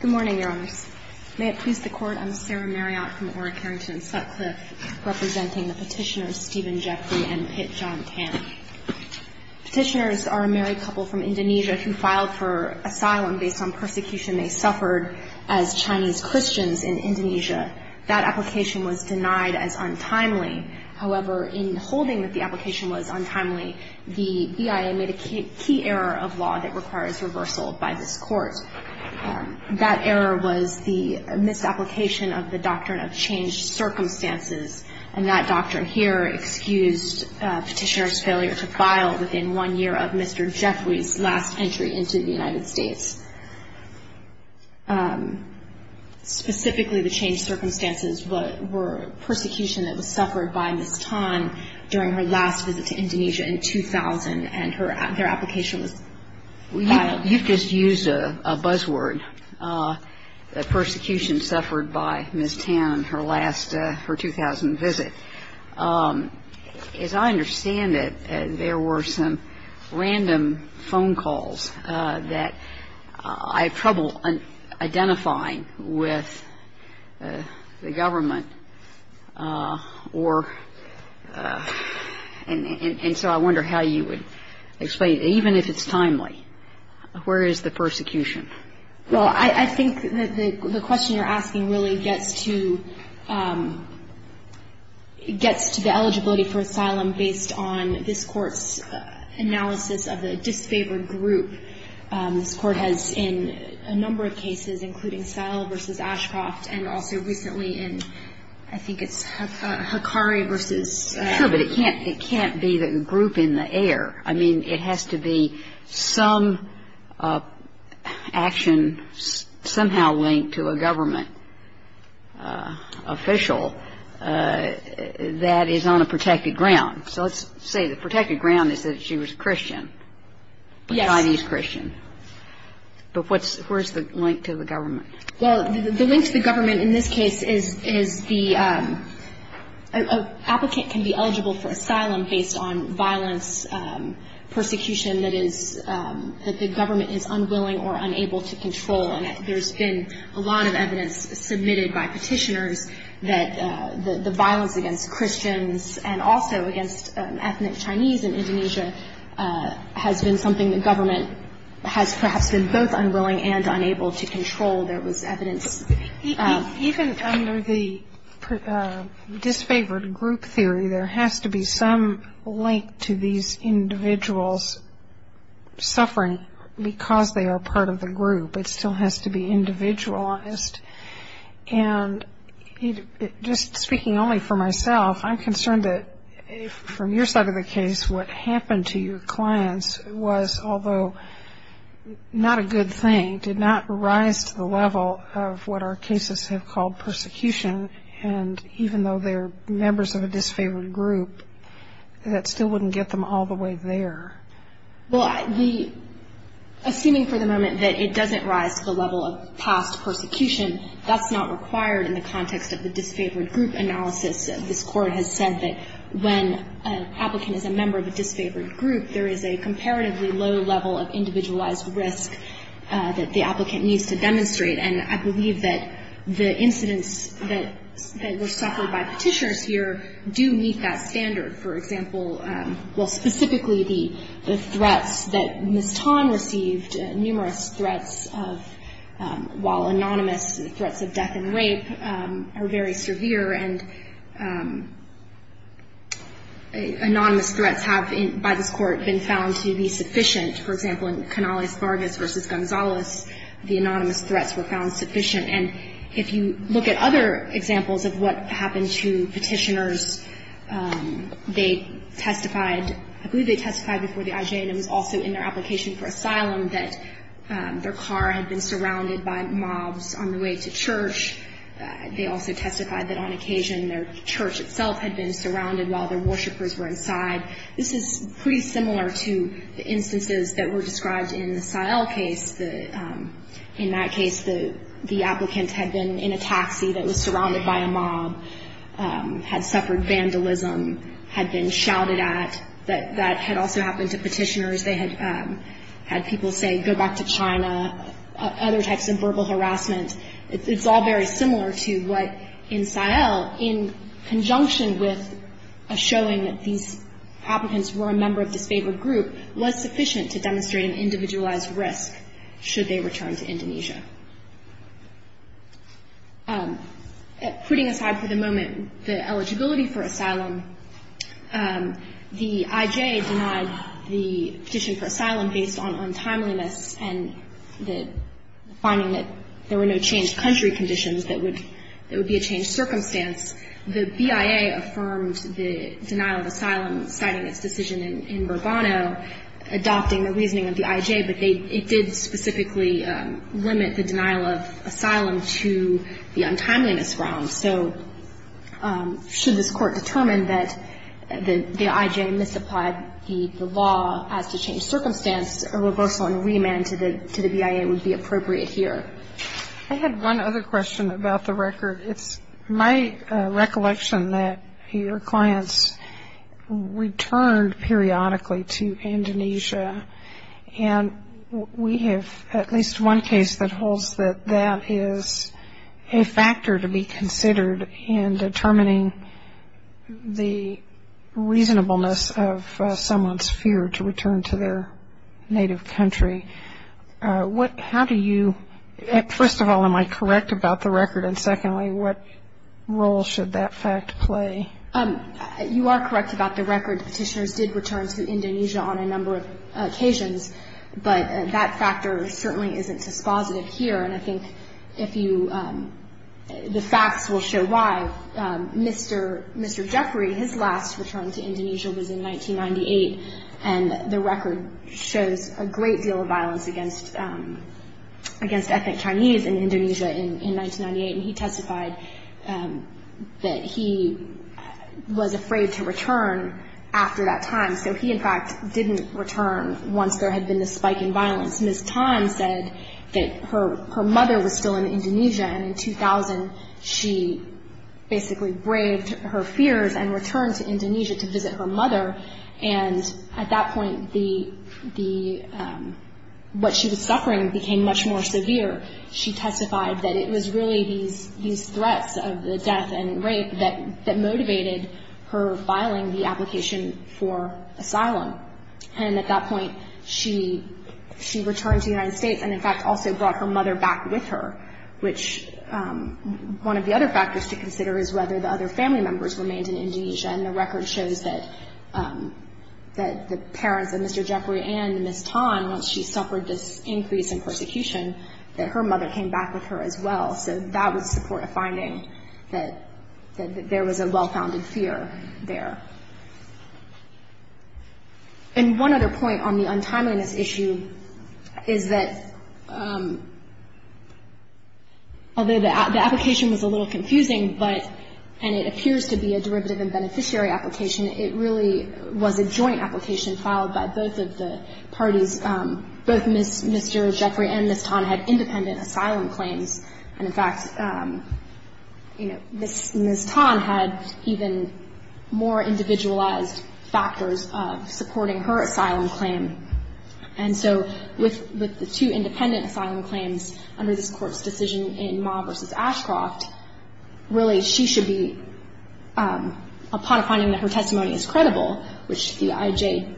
Good morning, Your Honors. May it please the Court, I'm Sarah Marriott from Ora Carrington Sutcliffe, representing the petitioners Stephen Jeffery and Pit John Tan. Petitioners are a married couple from Indonesia who filed for asylum based on persecution they suffered as Chinese Christians in Indonesia. That application was denied as untimely. However, in holding that the application was untimely, the BIA made a key error of law that requires reversal by this Court. That error was the misapplication of the Doctrine of Changed Circumstances, and that doctrine here excused petitioners' failure to file within one year of Mr. Jeffery's last entry into the United States. Specifically, the changed circumstances were persecution that was suffered by Ms. Tan during her last visit to Indonesia in 2000, and her application was filed. Now, you've just used a buzzword, persecution suffered by Ms. Tan, her last, her 2000 visit. As I understand it, there were some random phone calls that I have trouble identifying with the government or, and so I wonder how you would explain, even if it's timely, where is the persecution? Well, I think that the question you're asking really gets to the eligibility for asylum based on this Court's analysis of the disfavored group. This Court has in a number of cases, including Sell v. Ashcroft and also recently in, I think it's Hakari v. I'm not sure, but it can't be the group in the air. I mean, it has to be some action somehow linked to a government official that is on a protected ground. So let's say the protected ground is that she was a Christian. Yes. A Chinese Christian. Well, the link to the government in this case is the applicant can be eligible for asylum based on violence, persecution that is, that the government is unwilling or unable to control. And there's been a lot of evidence submitted by petitioners that the violence against Christians and also against ethnic Chinese in Indonesia has been something the government has perhaps been both unwilling and unable to control. There was evidence. Even under the disfavored group theory, there has to be some link to these individuals suffering because they are part of the group. It still has to be individualized. And just speaking only for myself, I'm concerned that from your side of the case, what happened to your clients was, although not a good thing, did not rise to the level of what our cases have called persecution. And even though they're members of a disfavored group, that still wouldn't get them all the way there. Well, assuming for the moment that it doesn't rise to the level of past persecution, that's not required in the context of the disfavored group analysis. This Court has said that when an applicant is a member of a disfavored group, there is a comparatively low level of individualized risk that the applicant needs to demonstrate. And I believe that the incidents that were suffered by petitioners here do meet that standard. For example, well, specifically the threats that Ms. Tan received, numerous threats of, while anonymous, threats of death and rape, are very severe. And anonymous threats have, by this Court, been found to be sufficient. For example, in Canales-Vargas v. Gonzalez, the anonymous threats were found sufficient. And if you look at other examples of what happened to petitioners, they testified, I believe they testified before the IJ, and it was also in their application for asylum, that their car had been surrounded by mobs on the way to church. They also testified that on occasion their church itself had been surrounded while their worshipers were inside. This is pretty similar to the instances that were described in the Sahel case. In that case, the applicant had been in a taxi that was surrounded by a mob, had suffered vandalism, had been shouted at. That had also happened to petitioners. They had had people say, go back to China, other types of verbal harassment. It's all very similar to what in Sahel, in conjunction with a showing that these applicants were a member of a church, should they return to Indonesia. Putting aside for the moment the eligibility for asylum, the IJ denied the petition for asylum based on untimeliness and the finding that there were no changed country conditions, that it would be a changed circumstance. The BIA affirmed the denial of asylum, citing its decision in Burbano, adopting the reasoning of the IJ, but it did specifically limit the denial of asylum to the untimeliness realm. So should this court determine that the IJ misapplied the law as to change circumstance, a reversal and remand to the BIA would be appropriate here. I had one other question about the record. It's my recollection that your clients returned periodically to Indonesia, and we have at least one case that holds that that is a factor to be considered in determining the reasonableness of someone's fear to return to their native country. How do you – first of all, am I correct about the record? And secondly, what role should that fact play? You are correct about the record. Petitioners did return to Indonesia on a number of occasions, but that factor certainly isn't dispositive here. And I think if you – the facts will show why. Mr. Jeffrey, his last return to Indonesia was in 1998, and the record shows a great deal of violence against ethnic Chinese in Indonesia in 1998, and he testified that he was afraid to return after that time. So he, in fact, didn't return once there had been this spike in violence. Ms. Tan said that her mother was still in Indonesia, and in 2000 she basically braved her fears and returned to Indonesia to visit her mother, and at that point the – what she was suffering became much more severe. She testified that it was really these threats of the death and rape that motivated her filing the application for asylum. And at that point she – she returned to the United States and, in fact, also brought her mother back with her, which one of the other factors to consider is whether the other family members remained in Indonesia, and the record shows that the parents of Mr. Jeffrey and Ms. Tan, once she suffered this increase in persecution, that her mother came back with her as well. So that would support a finding that there was a well-founded fear there. And one other point on the untimeliness issue is that although the application was a little confusing, but – and it appears to be a derivative and beneficiary application, it really was a joint application filed by both of the parties. Both Ms. – Mr. Jeffrey and Ms. Tan had independent asylum claims. And, in fact, you know, Ms. Tan had even more individualized factors of supporting her asylum claim. And so with the two independent asylum claims under this Court's decision in Ma versus Ashcroft, really she should be – upon finding that her testimony is credible, which the IJ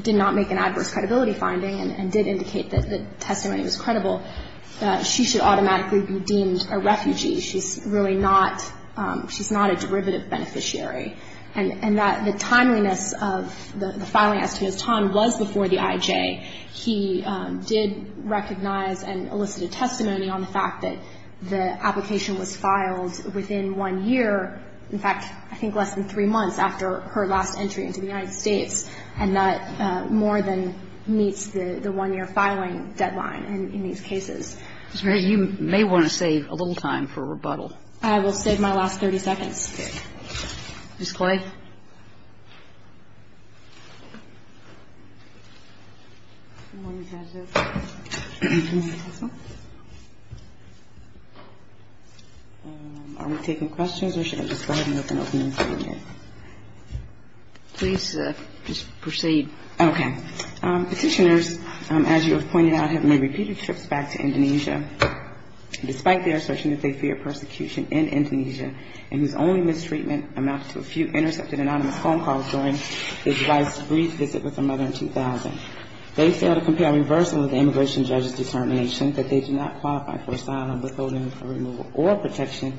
did not make an adverse credibility finding and did indicate that the testimony was credible, that she should automatically be deemed a refugee. She's really not – she's not a derivative beneficiary. And that the timeliness of the filing as to Ms. Tan was before the IJ. He did recognize and elicited testimony on the fact that the application was filed within one year. In fact, I think less than three months after her last entry into the United States, and that more than meets the one-year filing deadline in these cases. Ms. Murray, you may want to save a little time for rebuttal. I will save my last 30 seconds. Okay. Ms. Clay? Good morning, Judge. Good morning, counsel. Are we taking questions, or should I just go ahead and open up the meeting? Please just proceed. Okay. Petitioners, as you have pointed out, have made repeated trips back to Indonesia, despite their assertion that they fear persecution in Indonesia, and whose only mistreatment amounted to a few intercepted anonymous phone calls during his wife's brief visit with her mother in 2000. They fail to compare reversal with the immigration judge's determination that they do not qualify for asylum withholding or removal or protection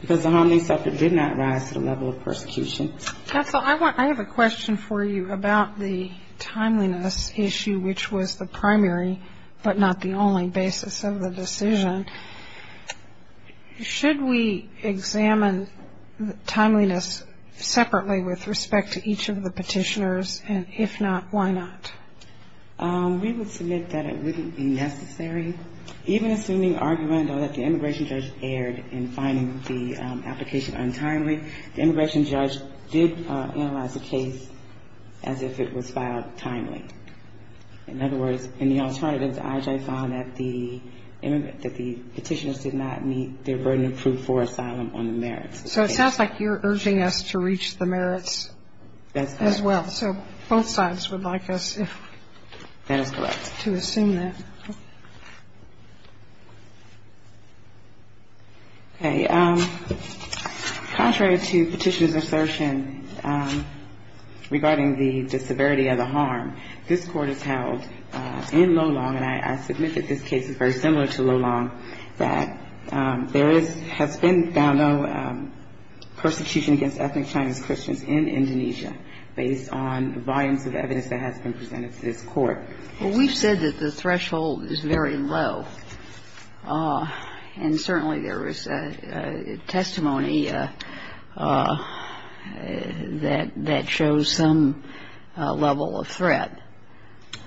because the hominid subject did not rise to the level of persecution. Counsel, I have a question for you about the timeliness issue, which was the primary, but not the only, basis of the decision. Should we examine timeliness separately with respect to each of the petitioners, and if not, why not? We would submit that it wouldn't be necessary. Even assuming argument, though, that the immigration judge erred in finding the application untimely, the immigration judge did analyze the case as if it was filed timely. In other words, in the alternatives, IJ found that the petitioners did not meet their burden of proof for asylum on the merits. So it sounds like you're urging us to reach the merits as well. That's correct. So both sides would like us to assume that. Okay. Contrary to Petitioner's assertion regarding the severity of the harm, this Court has held in Lolong, and I submit that this case is very similar to Lolong, that there has been found no persecution against ethnic Chinese Christians in Indonesia based on the volumes of evidence that has been presented to this Court. Well, we've said that the threshold is very low. And certainly there is testimony that shows some level of threat.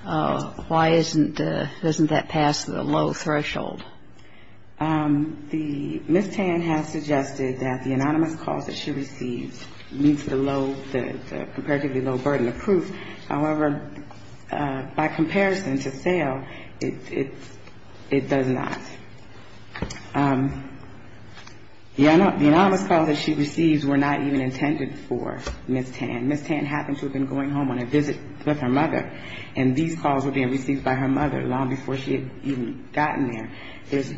Why isn't that passed at a low threshold? The Ms. Tan has suggested that the anonymous calls that she received meets the low, the comparatively low burden of proof. However, by comparison, to sale, it does not. The anonymous calls that she receives were not even intended for Ms. Tan. Ms. Tan happened to have been going home on a visit with her mother, and these calls were being received by her mother long before she had even gotten there.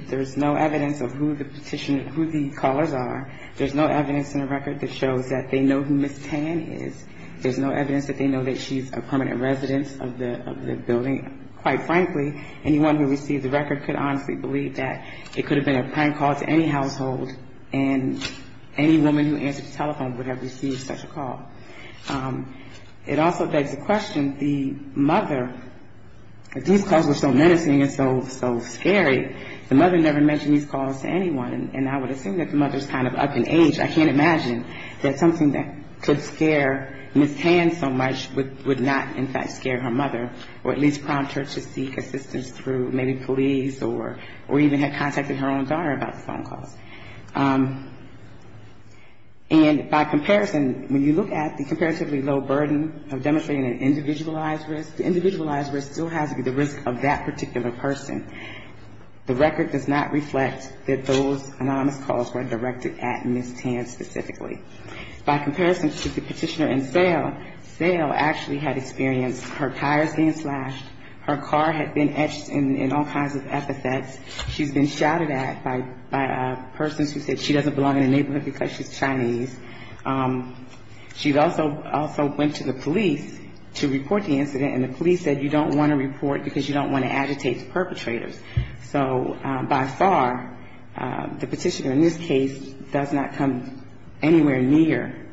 There's no evidence of who the petitioner, who the callers are. There's no evidence in the record that shows that they know who Ms. Tan is. There's no evidence that they know that she's a permanent resident of the building. Quite frankly, anyone who received the record could honestly believe that it could have been a prank call to any household, and any woman who answered the telephone would have received such a call. It also begs the question, the mother, these calls were so menacing and so scary. The mother never mentioned these calls to anyone, and I would assume that the mother is kind of up in age. I can't imagine that something that could scare Ms. Tan so much would not, in fact, scare her mother or at least prompt her to seek assistance through maybe police or even had contacted her own daughter about the phone calls. And by comparison, when you look at the comparatively low burden of demonstrating an individualized risk, the individualized risk still has to be the risk of that particular person. The record does not reflect that those anonymous calls were directed at Ms. Tan specifically. By comparison to the petitioner in Sale, Sale actually had experienced her tires being slashed, her car had been etched in all kinds of epithets. She's been shouted at by persons who said she doesn't belong in the neighborhood because she's Chinese. She also went to the police to report the incident, and the police said you don't want to report because you don't want to agitate the perpetrators. So by far, the petitioner in this case does not come anywhere near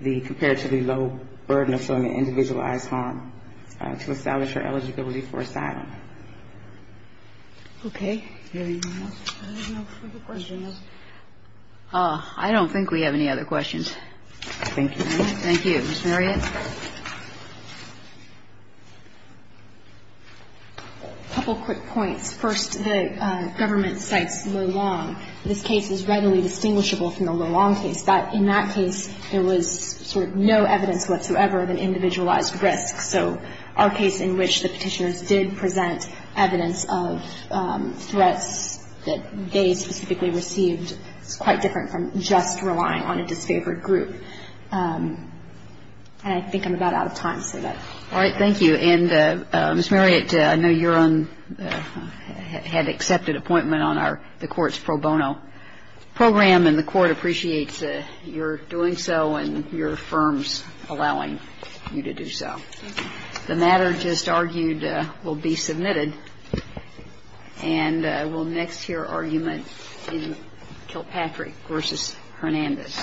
the comparatively low burden of showing an individualized harm to establish her eligibility for asylum. Okay. Any other questions? I don't think we have any other questions. Thank you. Thank you. Ms. Marriott. A couple quick points. First, the government cites Luolong. This case is readily distinguishable from the Luolong case. In that case, there was sort of no evidence whatsoever of an individualized risk. So our case in which the petitioners did present evidence of threats that they specifically received is quite different from just relying on a disfavored group. And I think I'm about out of time. All right. Thank you. And, Ms. Marriott, I know you had an accepted appointment on the Court's pro bono program, and the Court appreciates your doing so and your firm's allowing you to do so. Thank you. The matter just argued will be submitted. And I will next hear argument in Kilpatrick v. Hernandez. Thank you.